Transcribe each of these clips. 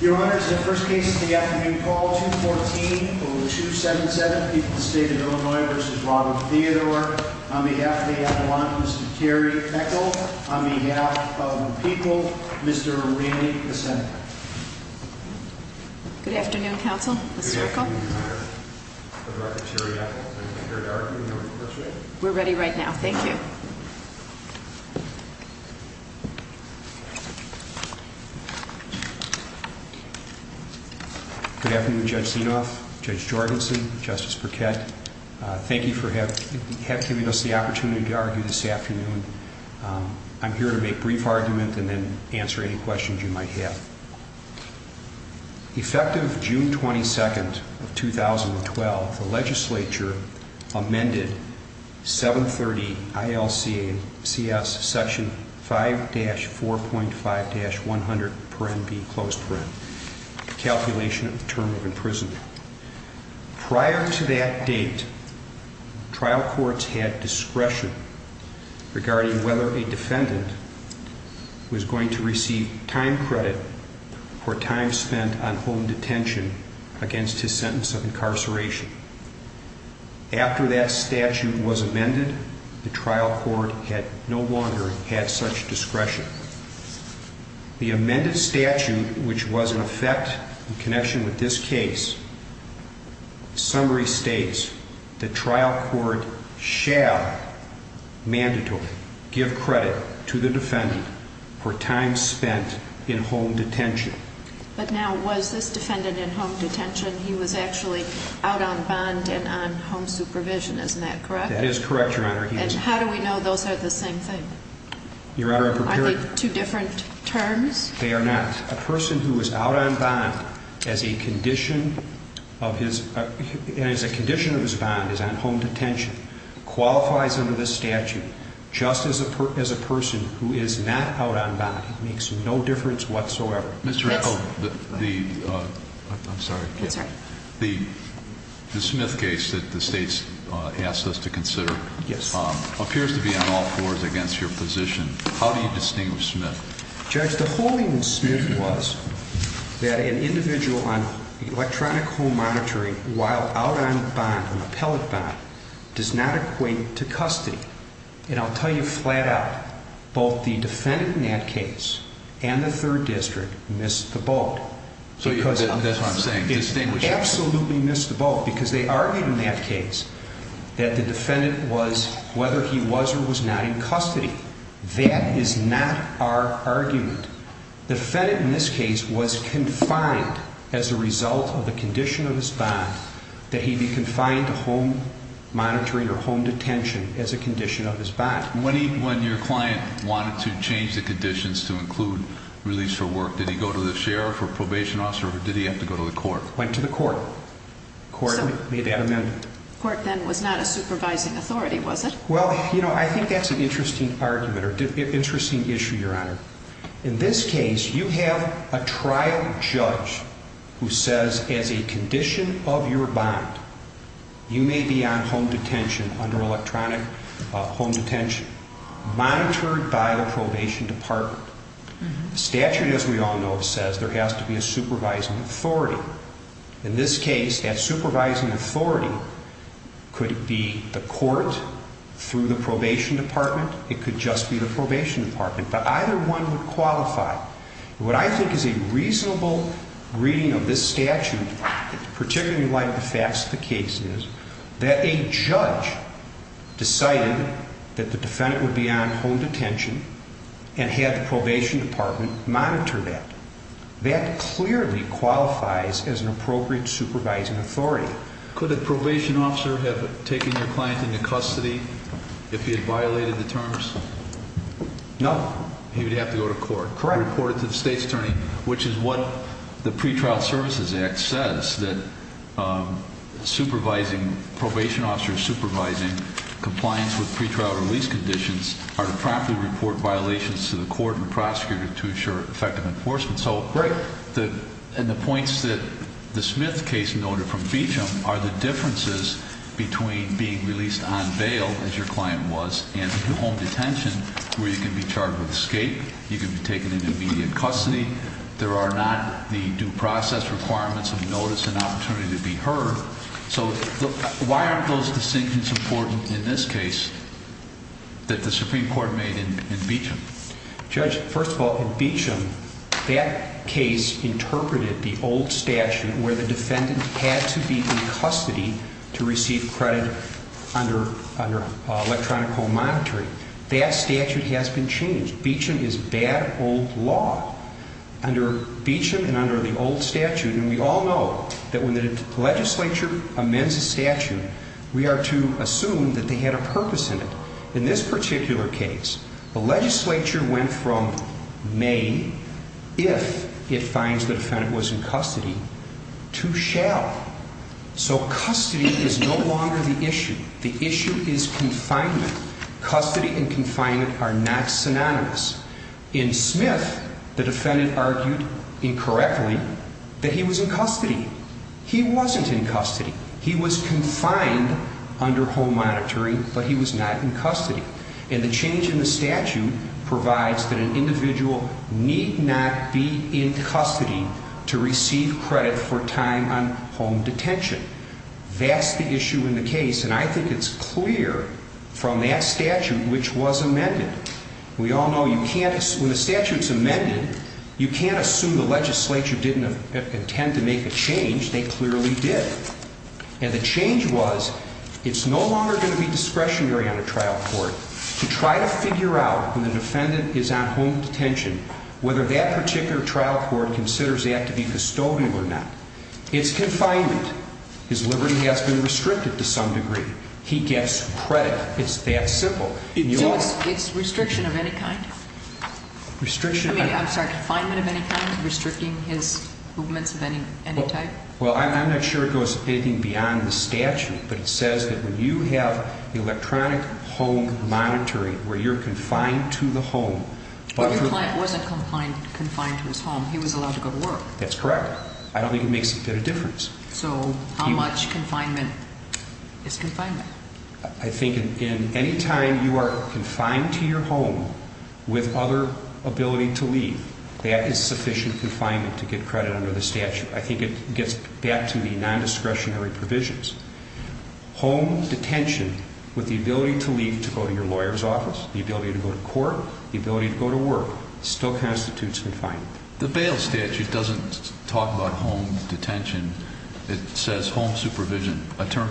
Your Honor, this is the first case of the afternoon, call 214-0277, People of the State of Illinois v. Robert Theodore. On behalf of the Avalanche, Mr. Terry Echol. On behalf of the people, Mr. Ranney, the Senator. Good afternoon, Counsel. Mr. Echol. Good afternoon, Your Honor. I'm Dr. Terry Echol. I'm here to argue in the request for amendment. We're ready right now. Thank you. Good afternoon, Judge Zinoff, Judge Jorgensen, Justice Burkett. Thank you for giving us the opportunity to argue this afternoon. I'm here to make brief argument and then answer any questions you might have. Effective June 22nd of 2012, the legislature amended 730 ILCA CS section 5-4.5-100, paren B, closed paren, calculation of term of imprisonment. Prior to that date, trial courts had discretion regarding whether a defendant was going to receive time credit for time spent on home detention against his sentence of incarceration. After that statute was amended, the trial court had no longer had such discretion. The amended statute, which was in effect in connection with this case, summary states the trial court shall mandatorily give credit to the defendant for time spent in home detention. But now, was this defendant in home detention? He was actually out on bond and on home supervision, isn't that correct? That is correct, Your Honor. And how do we know those are the same thing? Your Honor, I prepared... Aren't they two different terms? They are not. A person who is out on bond as a condition of his bond is on home detention qualifies under this statute just as a person who is not out on bond. It makes no difference whatsoever. Mr. Echol, the Smith case that the state has asked us to consider appears to be on all fours against your position. How do you distinguish Smith? Judge, the holding in Smith was that an individual on electronic home monitoring while out on bond, an appellate bond, does not equate to custody. And I'll tell you flat out, both the defendant in that case and the third district missed the boat. That's what I'm saying, distinguishing. They absolutely missed the boat because they argued in that case that the defendant was, whether he was or was not in custody. That is not our argument. The defendant in this case was confined as a result of the condition of his bond, that he be confined to home monitoring or home detention as a condition of his bond. When your client wanted to change the conditions to include release for work, did he go to the sheriff or probation officer or did he have to go to the court? Went to the court. Court made that amendment. Court then was not a supervising authority, was it? Well, you know, I think that's an interesting argument or interesting issue, Your Honor. In this case, you have a trial judge who says as a condition of your bond, you may be on home detention under electronic home detention, monitored by the probation department. The statute, as we all know, says there has to be a supervising authority. In this case, that supervising authority could be the court through the probation department. It could just be the probation department, but either one would qualify. What I think is a reasonable reading of this statute, particularly like the facts of the case is that a judge decided that the defendant would be on home detention and had the probation department monitor that. That clearly qualifies as an appropriate supervising authority. Could the probation officer have taken your client into custody if he had violated the terms? No. Correct. Reported to the state's attorney, which is what the Pretrial Services Act says that supervising, probation officers supervising compliance with pretrial release conditions are to promptly report violations to the court and prosecutor to ensure effective enforcement. Right. And the points that the Smith case noted from Beecham are the differences between being released on bail, as your client was, and home detention, where you can be charged with escape, you can be taken into immediate custody, there are not the due process requirements of notice and opportunity to be heard. So why aren't those distinctions important in this case that the Supreme Court made in Beecham? Judge, first of all, in Beecham, that case interpreted the old statute where the defendant had to be in custody to receive credit under electronic home monitoring. That statute has been changed. Beecham is bad old law. Under Beecham and under the old statute, and we all know that when the legislature amends a statute, we are to assume that they had a purpose in it. In this particular case, the legislature went from may, if it finds the defendant was in custody, to shall. So custody is no longer the issue. The issue is confinement. Custody and confinement are not synonymous. In Smith, the defendant argued incorrectly that he was in custody. He wasn't in custody. He was confined under home monitoring, but he was not in custody. And the change in the statute provides that an individual need not be in custody to receive credit for time on home detention. That's the issue in the case, and I think it's clear from that statute, which was amended. We all know you can't, when the statute's amended, you can't assume the legislature didn't intend to make a change. They clearly did. And the change was it's no longer going to be discretionary on a trial court to try to figure out when the defendant is on home detention, whether that particular trial court considers that to be custodial or not. It's confinement. His liberty has been restricted to some degree. He gets credit. It's that simple. So it's restriction of any kind? Restriction of any kind. I'm sorry, confinement of any kind, restricting his movements of any type? Well, I'm not sure it goes anything beyond the statute, but it says that when you have electronic home monitoring where you're confined to the home. But the client wasn't confined to his home. He was allowed to go to work. That's correct. I don't think it makes a difference. So how much confinement is confinement? I think in any time you are confined to your home with other ability to leave, that is sufficient confinement to get credit under the statute. I think it gets back to the nondiscretionary provisions. Home detention with the ability to leave to go to your lawyer's office, the ability to go to court, the ability to go to work still constitutes confinement. The bail statute doesn't talk about home detention. It says home supervision.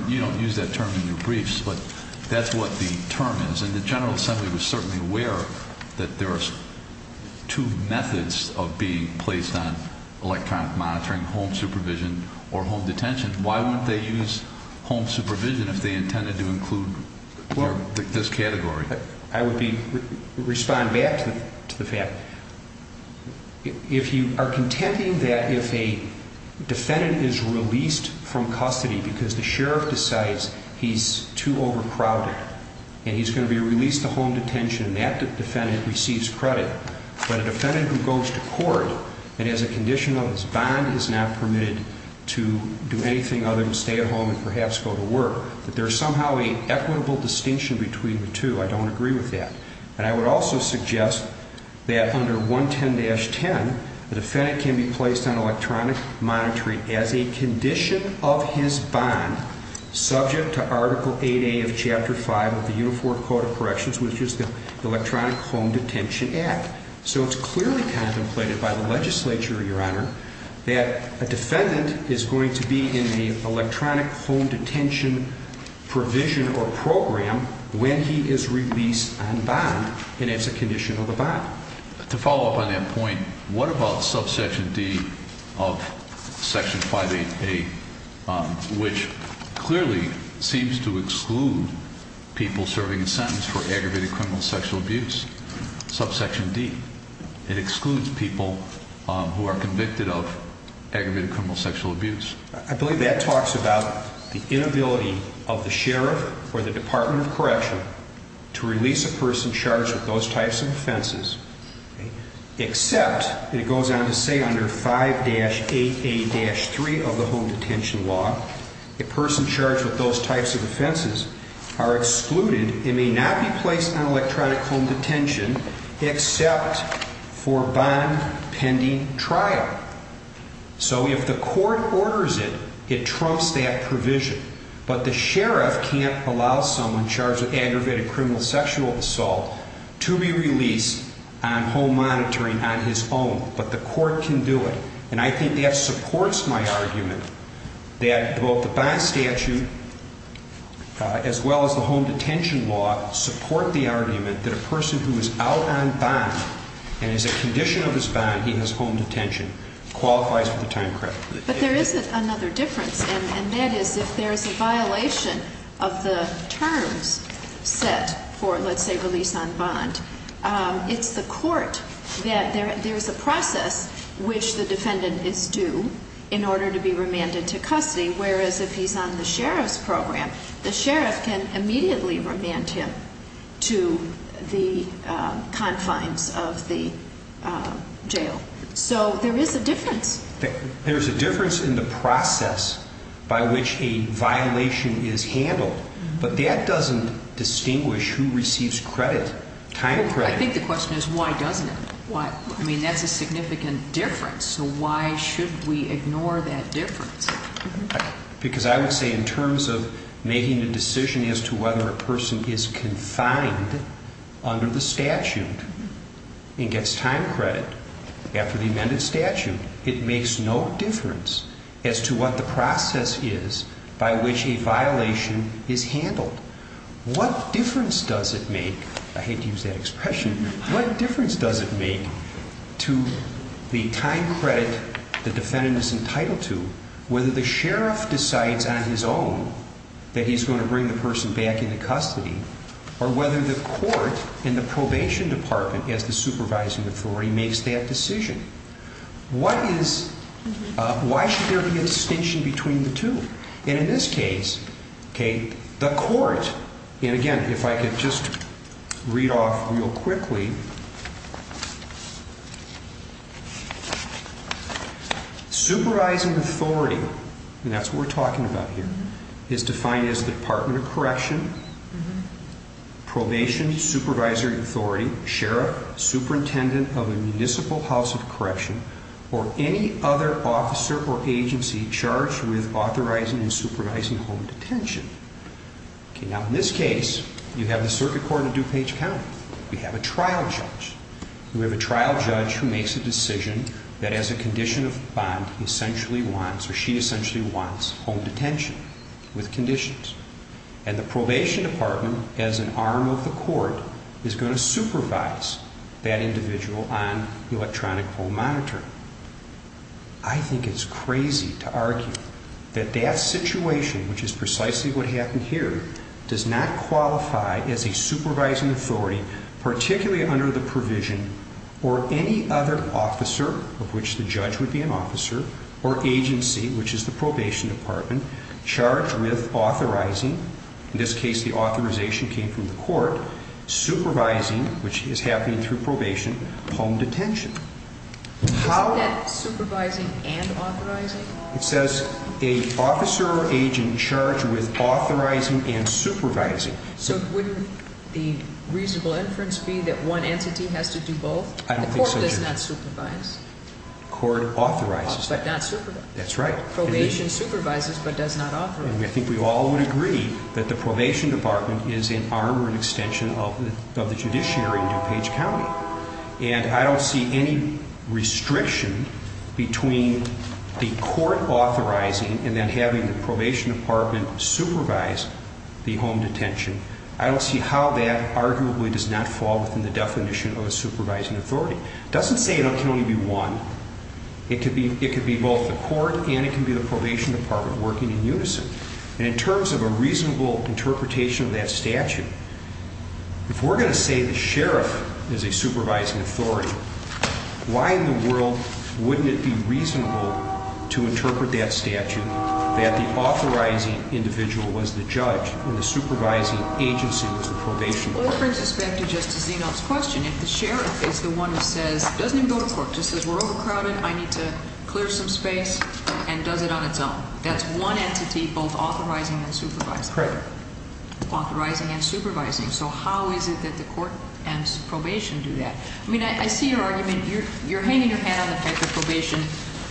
You don't use that term in your briefs, but that's what the term is. And the General Assembly was certainly aware that there are two methods of being placed on electronic monitoring, home supervision or home detention. Why wouldn't they use home supervision if they intended to include this category? I would respond back to the fact, if you are contending that if a defendant is released from custody because the sheriff decides he's too overcrowded and he's going to be released to home detention, that defendant receives credit, but a defendant who goes to court and has a condition of his bond is not permitted to do anything other than stay at home and perhaps go to work, that there is somehow an equitable distinction between the two. I don't agree with that. And I would also suggest that under 110-10, the defendant can be placed on electronic monitoring as a condition of his bond subject to Article 8A of Chapter 5 of the Uniform Code of Corrections, which is the Electronic Home Detention Act. So it's clearly contemplated by the legislature, Your Honor, that a defendant is going to be in the electronic home detention provision or program when he is released on bond, and it's a condition of the bond. To follow up on that point, what about subsection D of Section 588, which clearly seems to exclude people serving a sentence for aggravated criminal sexual abuse? Subsection D, it excludes people who are convicted of aggravated criminal sexual abuse. I believe that talks about the inability of the sheriff or the Department of Correction to release a person charged with those types of offenses, except, and it goes on to say under 5-8A-3 of the home detention law, a person charged with those types of offenses are excluded and may not be placed on electronic home detention except for bond pending trial. So if the court orders it, it trumps that provision. But the sheriff can't allow someone charged with aggravated criminal sexual assault to be released on home monitoring on his own, but the court can do it. And I think that supports my argument that both the bond statute as well as the home detention law support the argument that a person who is out on bond and is a condition of his bond, he has home detention, qualifies for the time credit. But there is another difference, and that is if there is a violation of the terms set for, let's say, release on bond, it's the court that there's a process which the defendant is due in order to be remanded to custody, whereas if he's on the sheriff's program, the sheriff can immediately remand him to the confines of the jail. So there is a difference. There's a difference in the process by which a violation is handled, but that doesn't distinguish who receives credit, time credit. I think the question is why doesn't it? I mean, that's a significant difference, so why should we ignore that difference? Because I would say in terms of making a decision as to whether a person is confined under the statute and gets time credit after the amended statute, it makes no difference as to what the process is by which a violation is handled. What difference does it make? I hate to use that expression. What difference does it make to the time credit the defendant is entitled to, whether the sheriff decides on his own that he's going to bring the person back into custody, or whether the court and the probation department, as the supervising authority, makes that decision? Why should there be a distinction between the two? And in this case, the court, and again, if I could just read off real quickly. Supervising authority, and that's what we're talking about here, is defined as the Department of Correction, probation, supervisory authority, sheriff, superintendent of a municipal house of correction, or any other officer or agency charged with authorizing and supervising home detention. Now, in this case, you have the circuit court of DuPage County. We have a trial judge. We have a trial judge who makes a decision that as a condition of bond, he essentially wants, or she essentially wants, home detention with conditions. And the probation department, as an arm of the court, is going to supervise that individual on electronic home monitoring. I think it's crazy to argue that that situation, which is precisely what happened here, does not qualify as a supervising authority, particularly under the provision, or any other officer, of which the judge would be an officer, or agency, which is the probation department, charged with authorizing, in this case, the authorization came from the court, supervising, which is happening through probation, home detention. Isn't that supervising and authorizing? It says an officer or agent charged with authorizing and supervising. So wouldn't the reasonable inference be that one entity has to do both? I don't think so, Judge. The court does not supervise. The court authorizes. But not supervise. That's right. Probation supervises, but does not authorize. And I think we all would agree that the probation department is an arm or an extension of the judiciary in DuPage County. And I don't see any restriction between the court authorizing and then having the probation department supervise the home detention. I don't see how that arguably does not fall within the definition of a supervising authority. It doesn't say it can only be one. It could be both the court and it can be the probation department working in unison. And in terms of a reasonable interpretation of that statute, if we're going to say the sheriff is a supervising authority, why in the world wouldn't it be reasonable to interpret that statute that the authorizing individual was the judge and the supervising agency was the probation department? Well, it brings us back to Justice Zeno's question. If the sheriff is the one who says, doesn't even go to court, just says we're overcrowded, I need to clear some space, and does it on its own, that's one entity both authorizing and supervising. Correct. Authorizing and supervising. So how is it that the court and probation do that? I mean, I see your argument. You're hanging your hat on the fact that probation,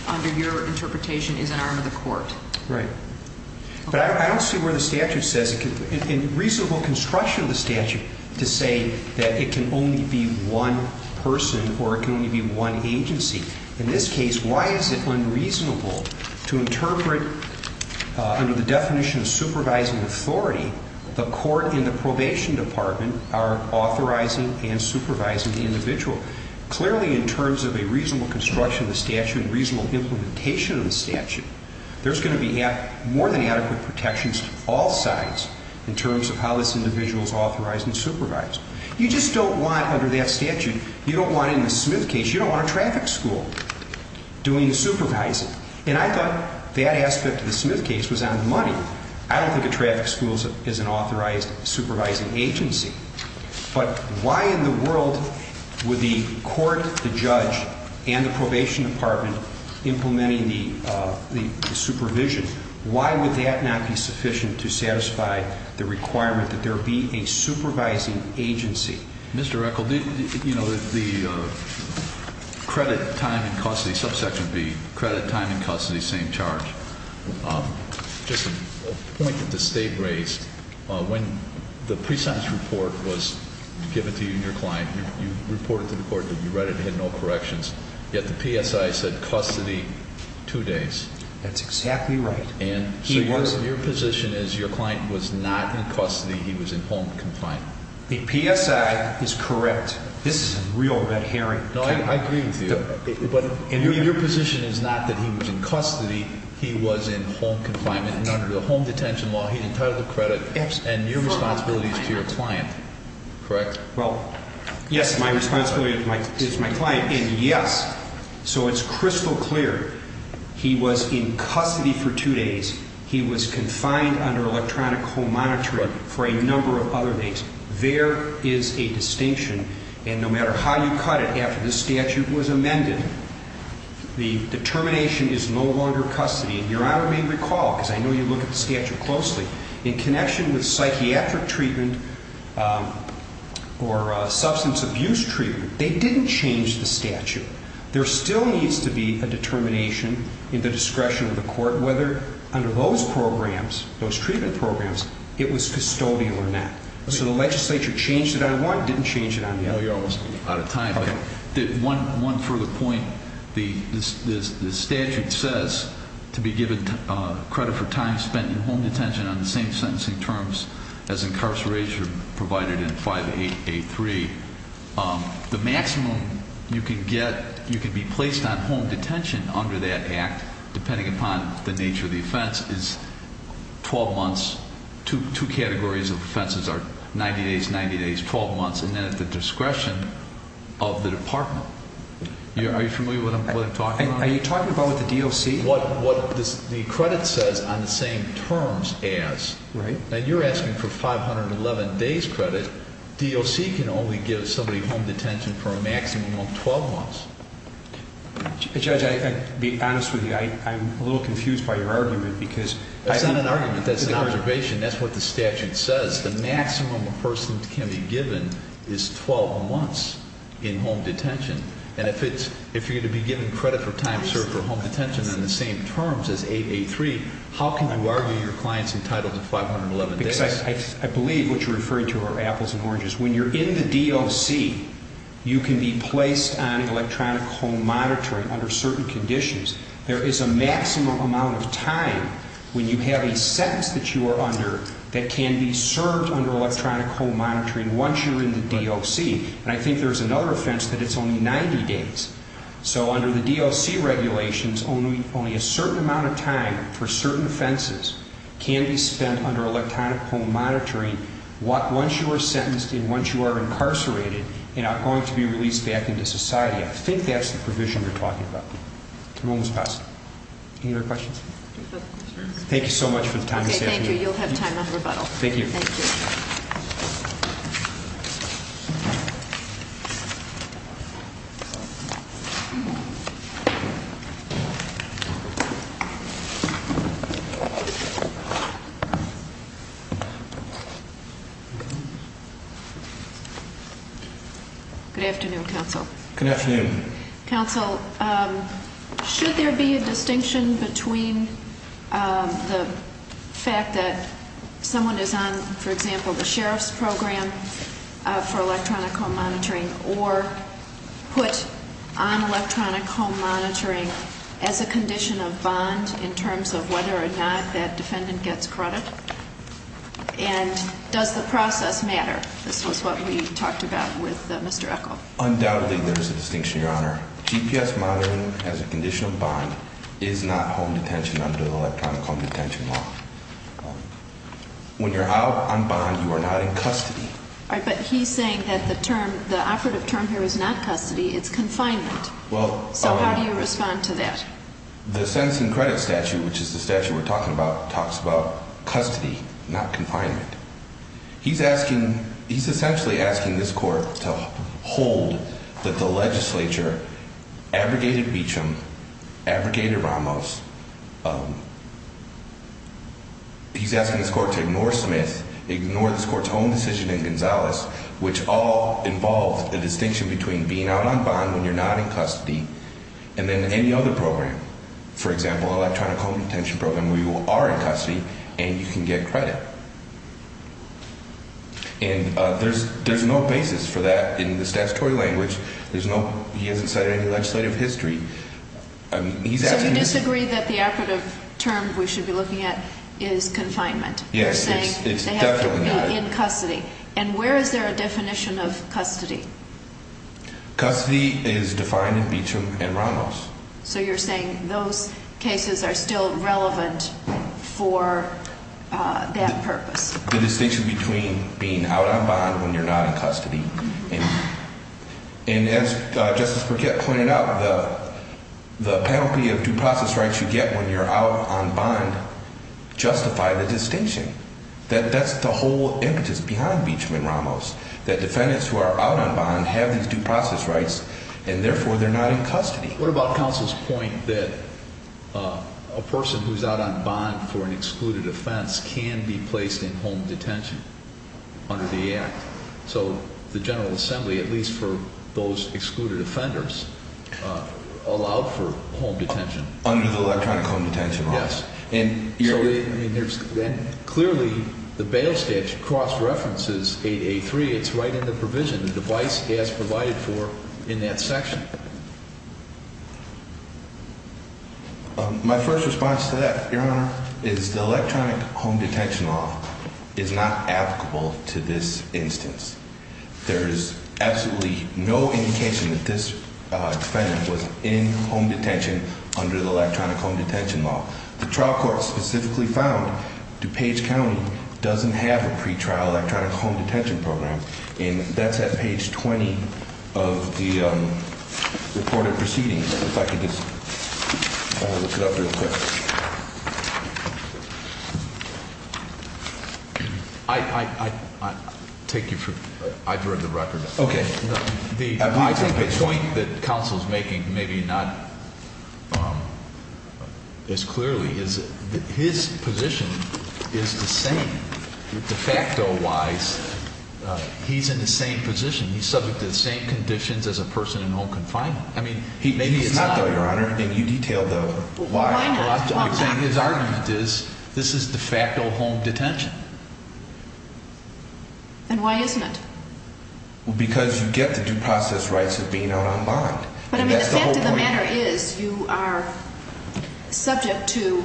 under your interpretation, is an arm of the court. Right. But I don't see where the statute says, in reasonable construction of the statute, to say that it can only be one person or it can only be one agency. In this case, why is it unreasonable to interpret, under the definition of supervising authority, the court and the probation department are authorizing and supervising the individual? Clearly, in terms of a reasonable construction of the statute and reasonable implementation of the statute, there's going to be more than adequate protections to all sides in terms of how this individual is authorized and supervised. You just don't want, under that statute, you don't want in the Smith case, you don't want a traffic school doing the supervising. And I thought that aspect of the Smith case was on money. I don't think a traffic school is an authorized supervising agency. But why in the world would the court, the judge, and the probation department implementing the supervision, why would that not be sufficient to satisfy the requirement that there be a supervising agency? Mr. Echol, the credit time and custody subsection would be credit time and custody, same charge. Just a point that the state raised, when the prescience report was given to you and your client, you reported to the court that you read it and had no corrections. Yet the PSI said custody, two days. That's exactly right. So your position is your client was not in custody, he was in home confinement. The PSI is correct. This is a real red herring. I agree with you. But your position is not that he was in custody, he was in home confinement. And under the home detention law, he's entitled to credit. And your responsibility is to your client, correct? Well, yes, my responsibility is my client. And yes, so it's crystal clear. He was in custody for two days. He was confined under electronic home monitoring for a number of other days. There is a distinction. And no matter how you cut it, after this statute was amended, the determination is no longer custody. Your Honor may recall, because I know you look at the statute closely, in connection with psychiatric treatment or substance abuse treatment, they didn't change the statute. There still needs to be a determination in the discretion of the court whether under those programs, those treatment programs, it was custodial or not. So the legislature changed it on one, didn't change it on the other. Well, you're almost out of time. One further point. The statute says to be given credit for time spent in home detention on the same sentencing terms as incarceration provided in 5883. The maximum you can get, you can be placed on home detention under that act, depending upon the nature of the offense, is 12 months. Two categories of offenses are 90 days, 90 days, 12 months, and then at the discretion of the department. Are you familiar with what I'm talking about? Are you talking about what the DOC, what the credit says on the same terms as? Right. Now, you're asking for 511 days credit. DOC can only give somebody home detention for a maximum of 12 months. Judge, to be honest with you, I'm a little confused by your argument because- That's not an argument. That's an observation. That's what the statute says. The maximum a person can be given is 12 months in home detention. If you're going to be given credit for time served for home detention on the same terms as 883, how can you argue your client's entitled to 511 days? I believe what you're referring to are apples and oranges. When you're in the DOC, you can be placed on electronic home monitoring under certain conditions. There is a maximum amount of time when you have a sentence that you are under that can be served under electronic home monitoring once you're in the DOC. And I think there's another offense that it's only 90 days. So under the DOC regulations, only a certain amount of time for certain offenses can be spent under electronic home monitoring once you are sentenced and once you are incarcerated and are going to be released back into society. I think that's the provision you're talking about. Any other questions? Thank you so much for the time this afternoon. Okay, thank you. You'll have time on rebuttal. Thank you. Thank you. Thank you. Good afternoon, counsel. Good afternoon. Counsel, should there be a distinction between the fact that someone is on, for example, the sheriff's program for electronic home monitoring or put on electronic home monitoring as a condition of bond in terms of whether or not that defendant gets credit? And does the process matter? This was what we talked about with Mr. Echol. Undoubtedly, there is a distinction, Your Honor. GPS monitoring as a condition of bond is not home detention under the electronic home detention law. When you're out on bond, you are not in custody. All right, but he's saying that the term, the operative term here is not custody. It's confinement. So how do you respond to that? The sentencing credit statute, which is the statute we're talking about, talks about custody, not confinement. He's asking, he's essentially asking this court to hold that the legislature abrogated Beecham, abrogated Ramos. He's asking this court to ignore Smith, ignore this court's own decision in Gonzales, which all involved a distinction between being out on bond when you're not in custody and then any other program. For example, electronic home detention program where you are in custody and you can get credit. And there's no basis for that in the statutory language. There's no, he hasn't cited any legislative history. So you disagree that the operative term we should be looking at is confinement? Yes, it's definitely not. You're saying they have to be in custody. And where is there a definition of custody? Custody is defined in Beecham and Ramos. So you're saying those cases are still relevant for that purpose? The distinction between being out on bond when you're not in custody. And as Justice Burkett pointed out, the penalty of due process rights you get when you're out on bond justify the distinction. That's the whole impetus behind Beecham and Ramos, that defendants who are out on bond have these due process rights and therefore they're not in custody. What about counsel's point that a person who's out on bond for an excluded offense can be placed in home detention under the Act? So the General Assembly, at least for those excluded offenders, allowed for home detention. Under the electronic home detention law. Yes. Clearly the bail statute cross-references 8A3. It's right in the provision. The device is provided for in that section. My first response to that, Your Honor, is the electronic home detention law is not applicable to this instance. There is absolutely no indication that this defendant was in home detention under the electronic home detention law. The trial court specifically found DuPage County doesn't have a pretrial electronic home detention program. And that's at page 20 of the reported proceedings. If I could just look it up real quick. I take you for, I've heard the record. Okay. I think the point that counsel's making, maybe not as clearly, is that his position is the same. De facto wise, he's in the same position. He's subject to the same conditions as a person in home confinement. I mean, maybe it's not though, Your Honor. I think you detailed the why. His argument is this is de facto home detention. And why isn't it? Because you get the due process rights of being out on bond. But, I mean, the fact of the matter is you are subject to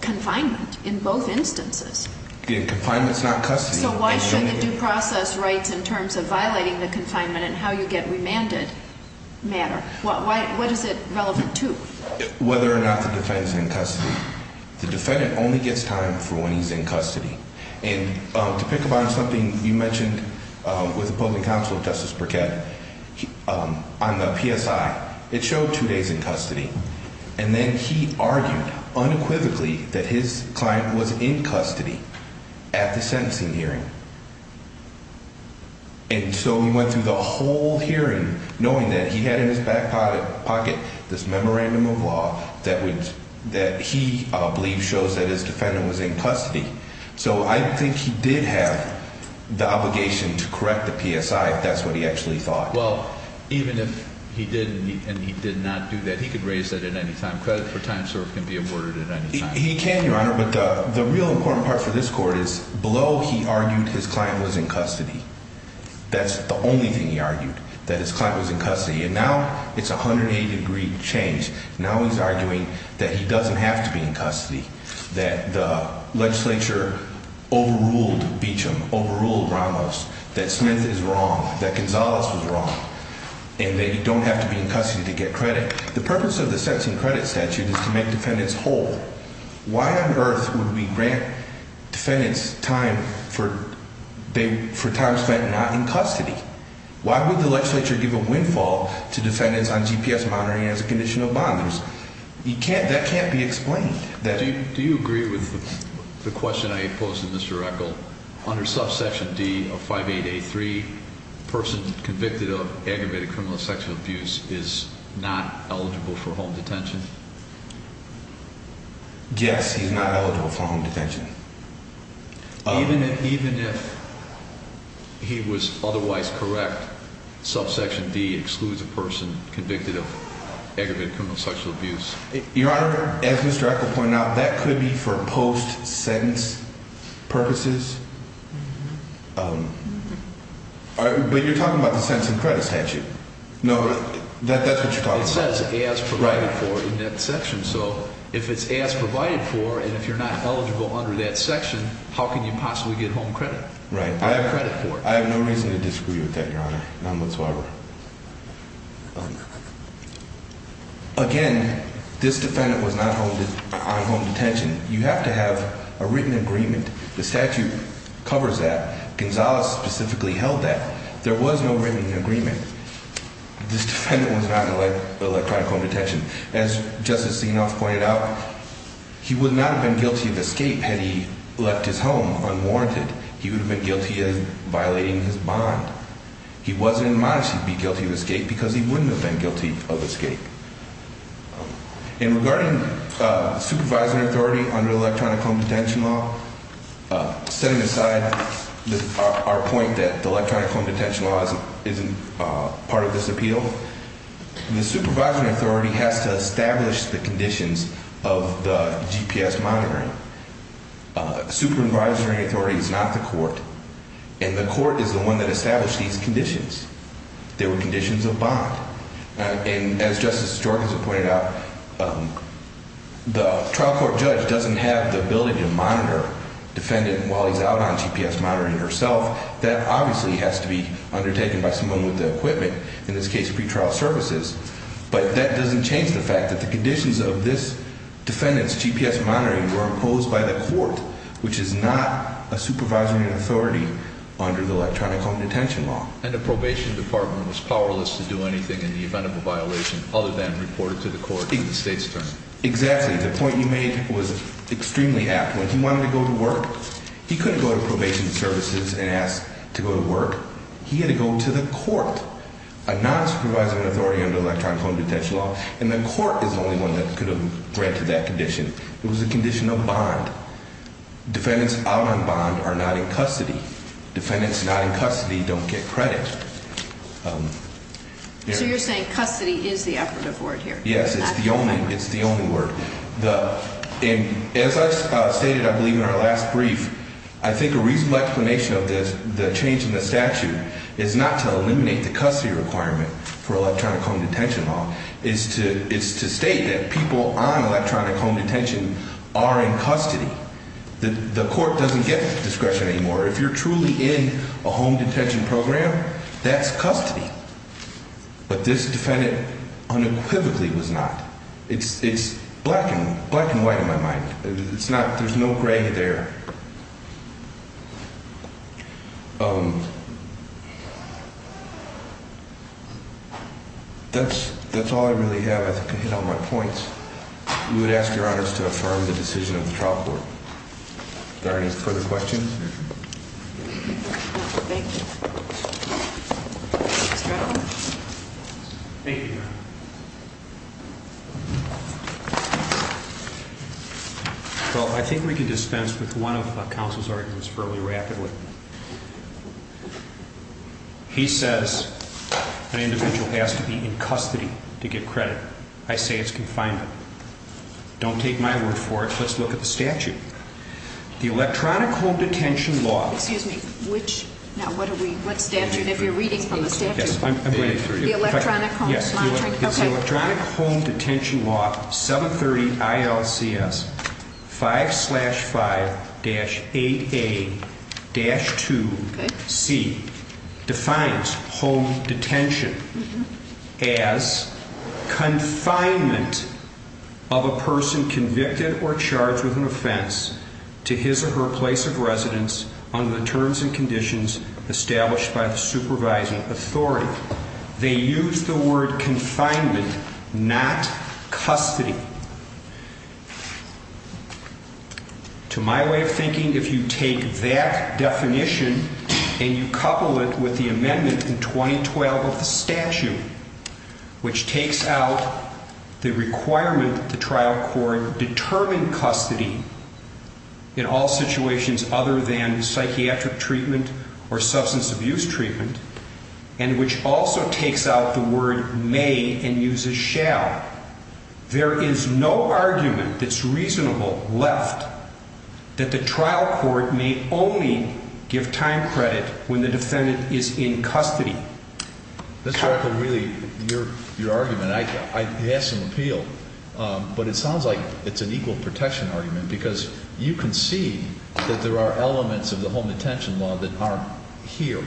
confinement in both instances. Confinement is not custody. So why should the due process rights in terms of violating the confinement and how you get remanded matter? What is it relevant to? Whether or not the defendant is in custody. The defendant only gets time for when he's in custody. And to pick up on something you mentioned with the public counsel, Justice Burkett, on the PSI, it showed two days in custody. And then he argued unequivocally that his client was in custody at the sentencing hearing. And so he went through the whole hearing knowing that he had in his back pocket this memorandum of law that he believed shows that his defendant was in custody. So I think he did have the obligation to correct the PSI if that's what he actually thought. Well, even if he did and he did not do that, he could raise that at any time. Credit for time served can be aborted at any time. He can, Your Honor. But the real important part for this court is below he argued his client was in custody. That's the only thing he argued, that his client was in custody. And now it's a 180-degree change. Now he's arguing that he doesn't have to be in custody. That the legislature overruled Beecham, overruled Ramos. That Smith is wrong. That Gonzalez was wrong. And they don't have to be in custody to get credit. The purpose of the sentencing credit statute is to make defendants whole. Why on earth would we grant defendants time for time spent not in custody? Why would the legislature give a windfall to defendants on GPS monitoring as a condition of bond? That can't be explained. Do you agree with the question I posed to Mr. Echol? Under subsection D of 5883, a person convicted of aggravated criminal sexual abuse is not eligible for home detention? Yes, he's not eligible for home detention. Even if he was otherwise correct, subsection D excludes a person convicted of aggravated criminal sexual abuse? Your Honor, as Mr. Echol pointed out, that could be for post-sentence purposes. But you're talking about the sentencing credit statute. No, that's what you're talking about. It says as provided for in that section. So if it's as provided for and if you're not eligible under that section, how can you possibly get home credit? Right. Or credit for it. I have no reason to disagree with that, Your Honor. None whatsoever. Again, this defendant was not on home detention. You have to have a written agreement. The statute covers that. Gonzales specifically held that. There was no written agreement. This defendant was not in electronic home detention. As Justice Sienoff pointed out, he would not have been guilty of escape had he left his home unwarranted. He would have been guilty of violating his bond. He wasn't in the mind to be guilty of escape because he wouldn't have been guilty of escape. And regarding supervisory authority under electronic home detention law, setting aside our point that electronic home detention law isn't part of this appeal, the supervisory authority has to establish the conditions of the GPS monitoring. Supervisory authority is not the court. And the court is the one that established these conditions. They were conditions of bond. And as Justice Sjorka has pointed out, the trial court judge doesn't have the ability to monitor the defendant while he's out on GPS monitoring herself. That obviously has to be undertaken by someone with the equipment, in this case pretrial services. But that doesn't change the fact that the conditions of this defendant's GPS monitoring were imposed by the court, which is not a supervisory authority under the electronic home detention law. And the probation department was powerless to do anything in the event of a violation other than report it to the court in the state's term. Exactly. The point you made was extremely apt. When he wanted to go to work, he couldn't go to probation services and ask to go to work. He had to go to the court, a non-supervisory authority under electronic home detention law. And the court is the only one that could have granted that condition. It was a condition of bond. Defendants out on bond are not in custody. Defendants not in custody don't get credit. So you're saying custody is the operative word here? Yes, it's the only word. As I stated, I believe, in our last brief, I think a reasonable explanation of this, the change in the statute, is not to eliminate the custody requirement for electronic home detention law. It's to state that people on electronic home detention are in custody. The court doesn't get discretion anymore. If you're truly in a home detention program, that's custody. But this defendant unequivocally was not. It's black and white in my mind. There's no gray there. That's all I really have. I think I hit all my points. We would ask Your Honors to affirm the decision of the trial court. Thank you, Your Honor. Well, I think we can dispense with one of counsel's arguments fairly rapidly. He says an individual has to be in custody to get credit. I say it's confinement. Don't take my word for it. Let's look at the statute. The electronic home detention law... Excuse me. Which? Now, what are we... What statute? If you're reading from the statute... Yes, I'm reading through it. The electronic home... Yes. The electronic home detention law, 730 ILCS 5-5-8A-2C, defines home detention as confinement of a person convicted or charged with an offense to his or her place of residence under the terms and conditions established by the supervising authority. However, they use the word confinement, not custody. To my way of thinking, if you take that definition and you couple it with the amendment in 2012 of the statute, which takes out the requirement that the trial court determine custody in all situations other than psychiatric treatment or substance abuse treatment, and which also takes out the word may and uses shall, there is no argument that's reasonable left that the trial court may only give time credit when the defendant is in custody. This is where I could really... Your argument, I'd ask some appeal, but it sounds like it's an equal protection argument because you can see that there are elements of the home detention law that aren't here.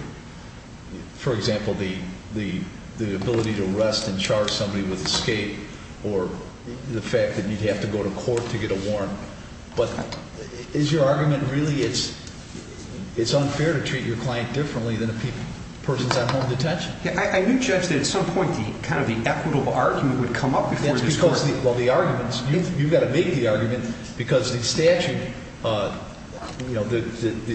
For example, the ability to arrest and charge somebody with escape or the fact that you'd have to go to court to get a warrant. But is your argument really it's unfair to treat your client differently than a person who's on home detention? I do judge that at some point kind of the equitable argument would come up before the court. Well, the arguments, you've got to make the argument because the statute,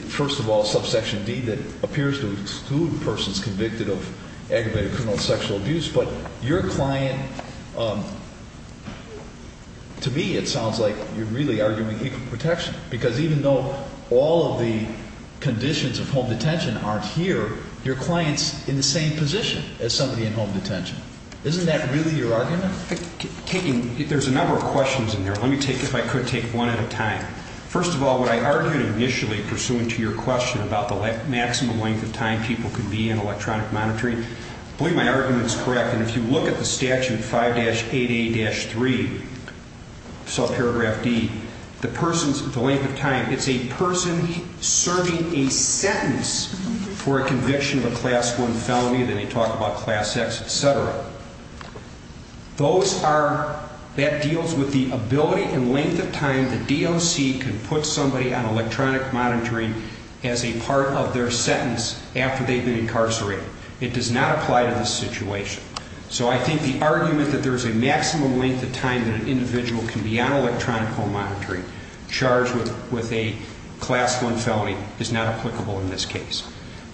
first of all, subsection D that appears to exclude persons convicted of aggravated criminal sexual abuse, but your client, to me it sounds like you're really arguing equal protection because even though all of the conditions of home detention aren't here, your client's in the same position as somebody in home detention. Isn't that really your argument? There's a number of questions in there. Let me take, if I could, take one at a time. First of all, what I argued initially pursuant to your question about the maximum length of time people can be in electronic monitoring, I believe my argument is correct. If you look at the statute 5-8A-3, subparagraph D, the length of time, it's a person serving a sentence for a conviction of a Class I felony, then they talk about Class X, et cetera. Those are, that deals with the ability and length of time the DOC can put somebody on electronic monitoring as a part of their sentence after they've been incarcerated. It does not apply to this situation. So I think the argument that there's a maximum length of time that an individual can be on electronic home monitoring charged with a Class I felony is not applicable in this case.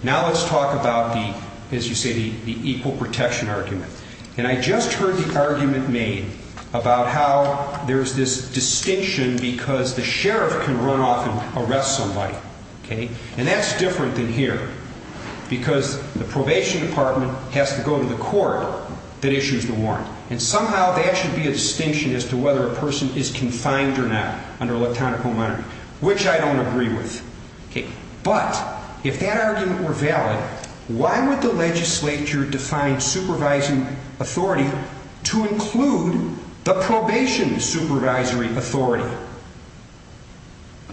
Now let's talk about the, as you say, the equal protection argument. And I just heard the argument made about how there's this distinction because the sheriff can run off and arrest somebody. And that's different than here, because the probation department has to go to the court that issues the warrant. And somehow that should be a distinction as to whether a person is confined or not under electronic home monitoring, which I don't agree with. But if that argument were valid, why would the legislature define supervising authority to include the probation supervisory authority?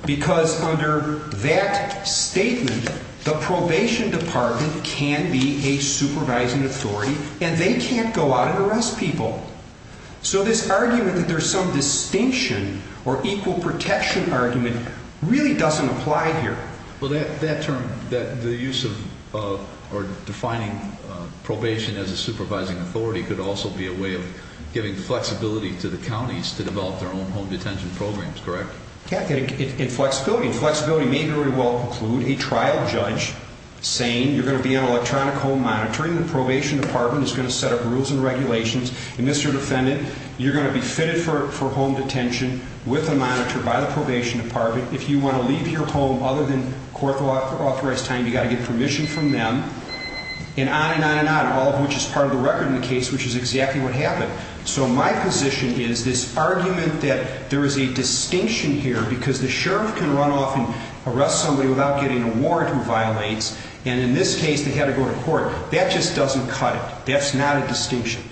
Because under that statement, the probation department can be a supervising authority, and they can't go out and arrest people. So this argument that there's some distinction or equal protection argument really doesn't apply here. Well, that term, the use of or defining probation as a supervising authority could also be a way of giving flexibility to the counties to develop their own home detention programs, correct? Yeah, and flexibility may very well include a trial judge saying you're going to be on electronic home monitoring, the probation department is going to set up rules and regulations, and Mr. Defendant, you're going to be fitted for home detention with a monitor by the probation department. If you want to leave your home other than court-authorized time, you've got to get permission from them, and on and on and on, all of which is part of the record in the case, which is exactly what happened. So my position is this argument that there is a distinction here because the sheriff can run off and arrest somebody without getting a warrant who violates, and in this case they had to go to court. That just doesn't cut it. That's not a distinction.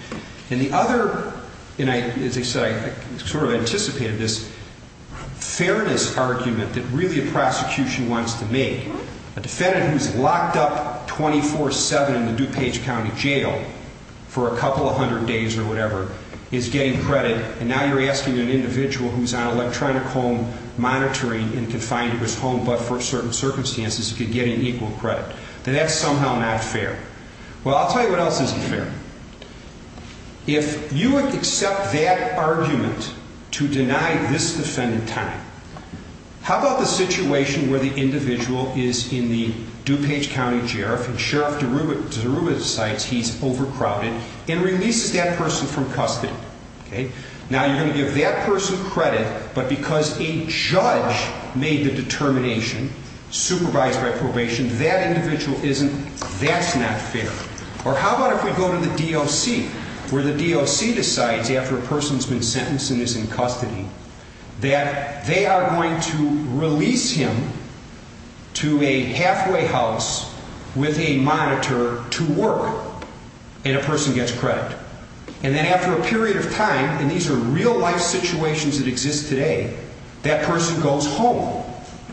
And the other, and as I said, I sort of anticipated this, fairness argument that really a prosecution wants to make. A defendant who's locked up 24-7 in the DuPage County Jail for a couple of hundred days or whatever is getting credit, and now you're asking an individual who's on electronic home monitoring and confined to his home but for certain circumstances he could get an equal credit. That's somehow not fair. Well, I'll tell you what else isn't fair. If you accept that argument to deny this defendant time, how about the situation where the individual is in the DuPage County Jail, and Sheriff DeRuba decides he's overcrowded and releases that person from custody. Now you're going to give that person credit, but because a judge made the determination, supervised by probation, that individual isn't, that's not fair. Or how about if we go to the DOC, where the DOC decides after a person's been sentenced and is in custody that they are going to release him to a halfway house with a monitor to work, and a person gets credit. And then after a period of time, and these are real-life situations that exist today, that person goes home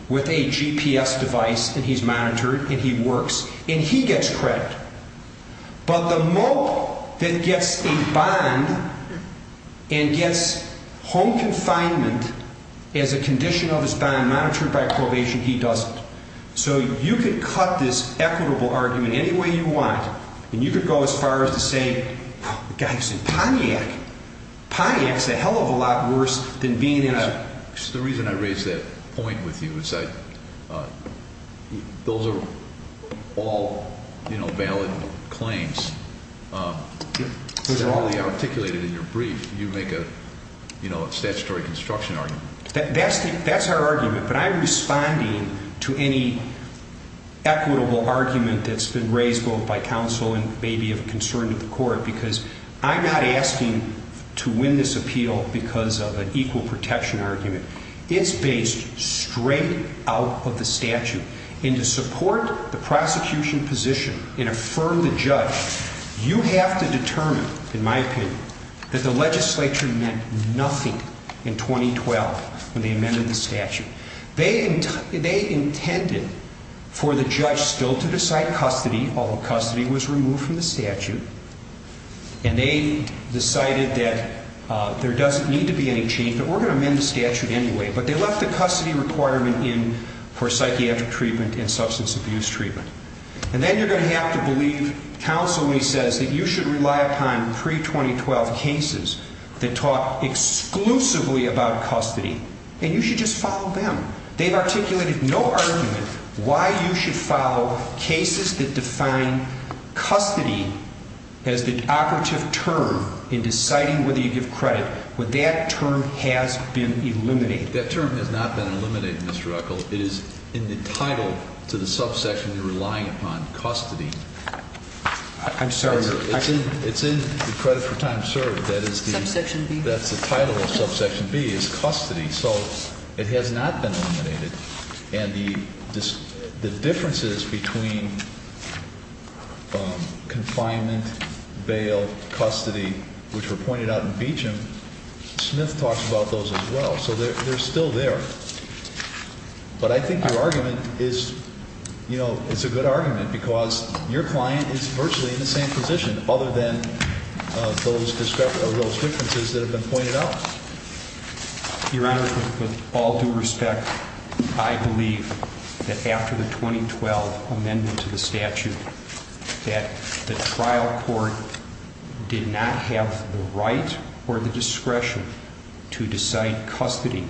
with a GPS device, and he's monitored, and he works, and he gets credit. But the mope that gets a bond and gets home confinement as a condition of his bond monitored by probation, he doesn't. So you could cut this equitable argument any way you want, and you could go as far as to say, Wow, the guy's in Pontiac. Pontiac's a hell of a lot worse than being in a... The reason I raise that point with you is that those are all valid claims. Those are all articulated in your brief. You make a statutory construction argument. That's our argument, but I'm responding to any equitable argument that's been raised both by counsel and maybe of concern to the court because I'm not asking to win this appeal because of an equal protection argument. It's based straight out of the statute, and to support the prosecution position and affirm the judge, you have to determine, in my opinion, that the legislature meant nothing in 2012 when they amended the statute. They intended for the judge still to decide custody, although custody was removed from the statute, and they decided that there doesn't need to be any change, but we're going to amend the statute anyway. But they left the custody requirement in for psychiatric treatment and substance abuse treatment. And then you're going to have to believe counsel when he says that you should rely upon pre-2012 cases that talk exclusively about custody, and you should just follow them. They've articulated no argument why you should follow cases that define custody as the operative term in deciding whether you give credit, but that term has been eliminated. That term has not been eliminated, Mr. Ruckel. It is in the title to the subsection you're relying upon, custody. I'm sorry. It's in the credit for time served. Subsection B? That's the title of subsection B is custody. So it has not been eliminated. And the differences between confinement, bail, custody, which were pointed out in Beecham, Smith talks about those as well. So they're still there. But I think your argument is, you know, it's a good argument because your client is virtually in the same position other than those differences that have been pointed out. Your Honor, with all due respect, I believe that after the 2012 amendment to the statute, that the trial court did not have the right or the discretion to decide custody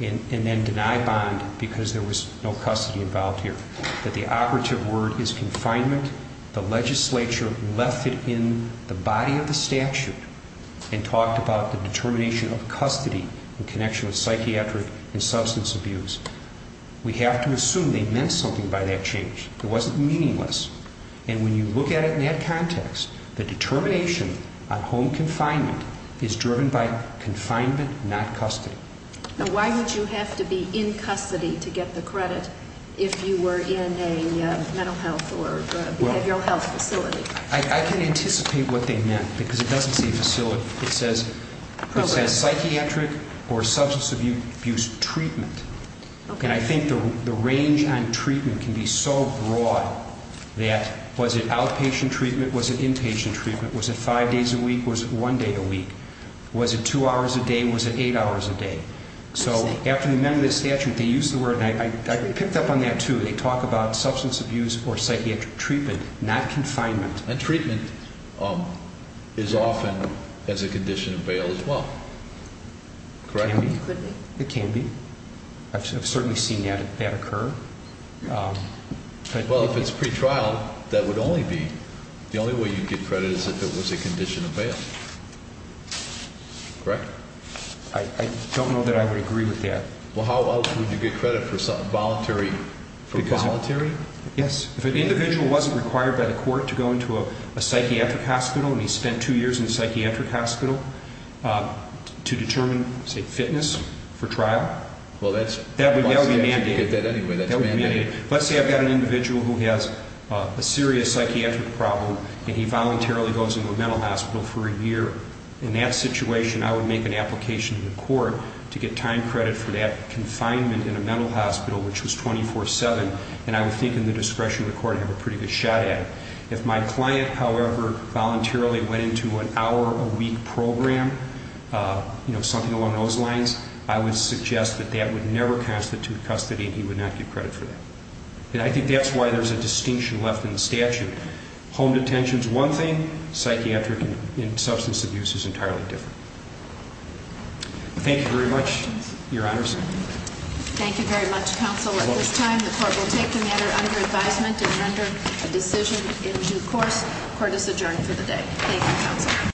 and then deny bond because there was no custody involved here, that the operative word is confinement. The legislature left it in the body of the statute and talked about the determination of custody in connection with psychiatric and substance abuse. We have to assume they meant something by that change. It wasn't meaningless. And when you look at it in that context, the determination on home confinement is driven by confinement, not custody. Now, why would you have to be in custody to get the credit if you were in a mental health or behavioral health facility? I can anticipate what they meant because it doesn't say facility. It says psychiatric or substance abuse treatment. And I think the range on treatment can be so broad that was it outpatient treatment, was it inpatient treatment, was it five days a week, was it one day a week, was it two hours a day, was it eight hours a day? So after the amendment of the statute, they used the word, and I picked up on that too. They talk about substance abuse or psychiatric treatment, not confinement. And treatment is often as a condition of bail as well, correct? It could be. It can be. I've certainly seen that occur. Well, if it's pretrial, that would only be. The only way you'd get credit is if it was a condition of bail, correct? I don't know that I would agree with that. Well, how else would you get credit for voluntary? Yes. If an individual wasn't required by the court to go into a psychiatric hospital and he spent two years in a psychiatric hospital to determine, say, fitness for trial, that would be mandated. Let's say I've got an individual who has a serious psychiatric problem and he voluntarily goes into a mental hospital for a year. In that situation, I would make an application to the court to get time credit for that confinement in a mental hospital, which was 24-7, and I would think in the discretion of the court I'd have a pretty good shot at it. If my client, however, voluntarily went into an hour-a-week program, something along those lines, I would suggest that that would never constitute custody and he would not get credit for that. And I think that's why there's a distinction left in the statute. Home detention is one thing. Psychiatric and substance abuse is entirely different. Thank you very much, Your Honors. Thank you very much, Counsel. At this time, the court will take the matter under advisement and render a decision in due course. Thank you, Counsel.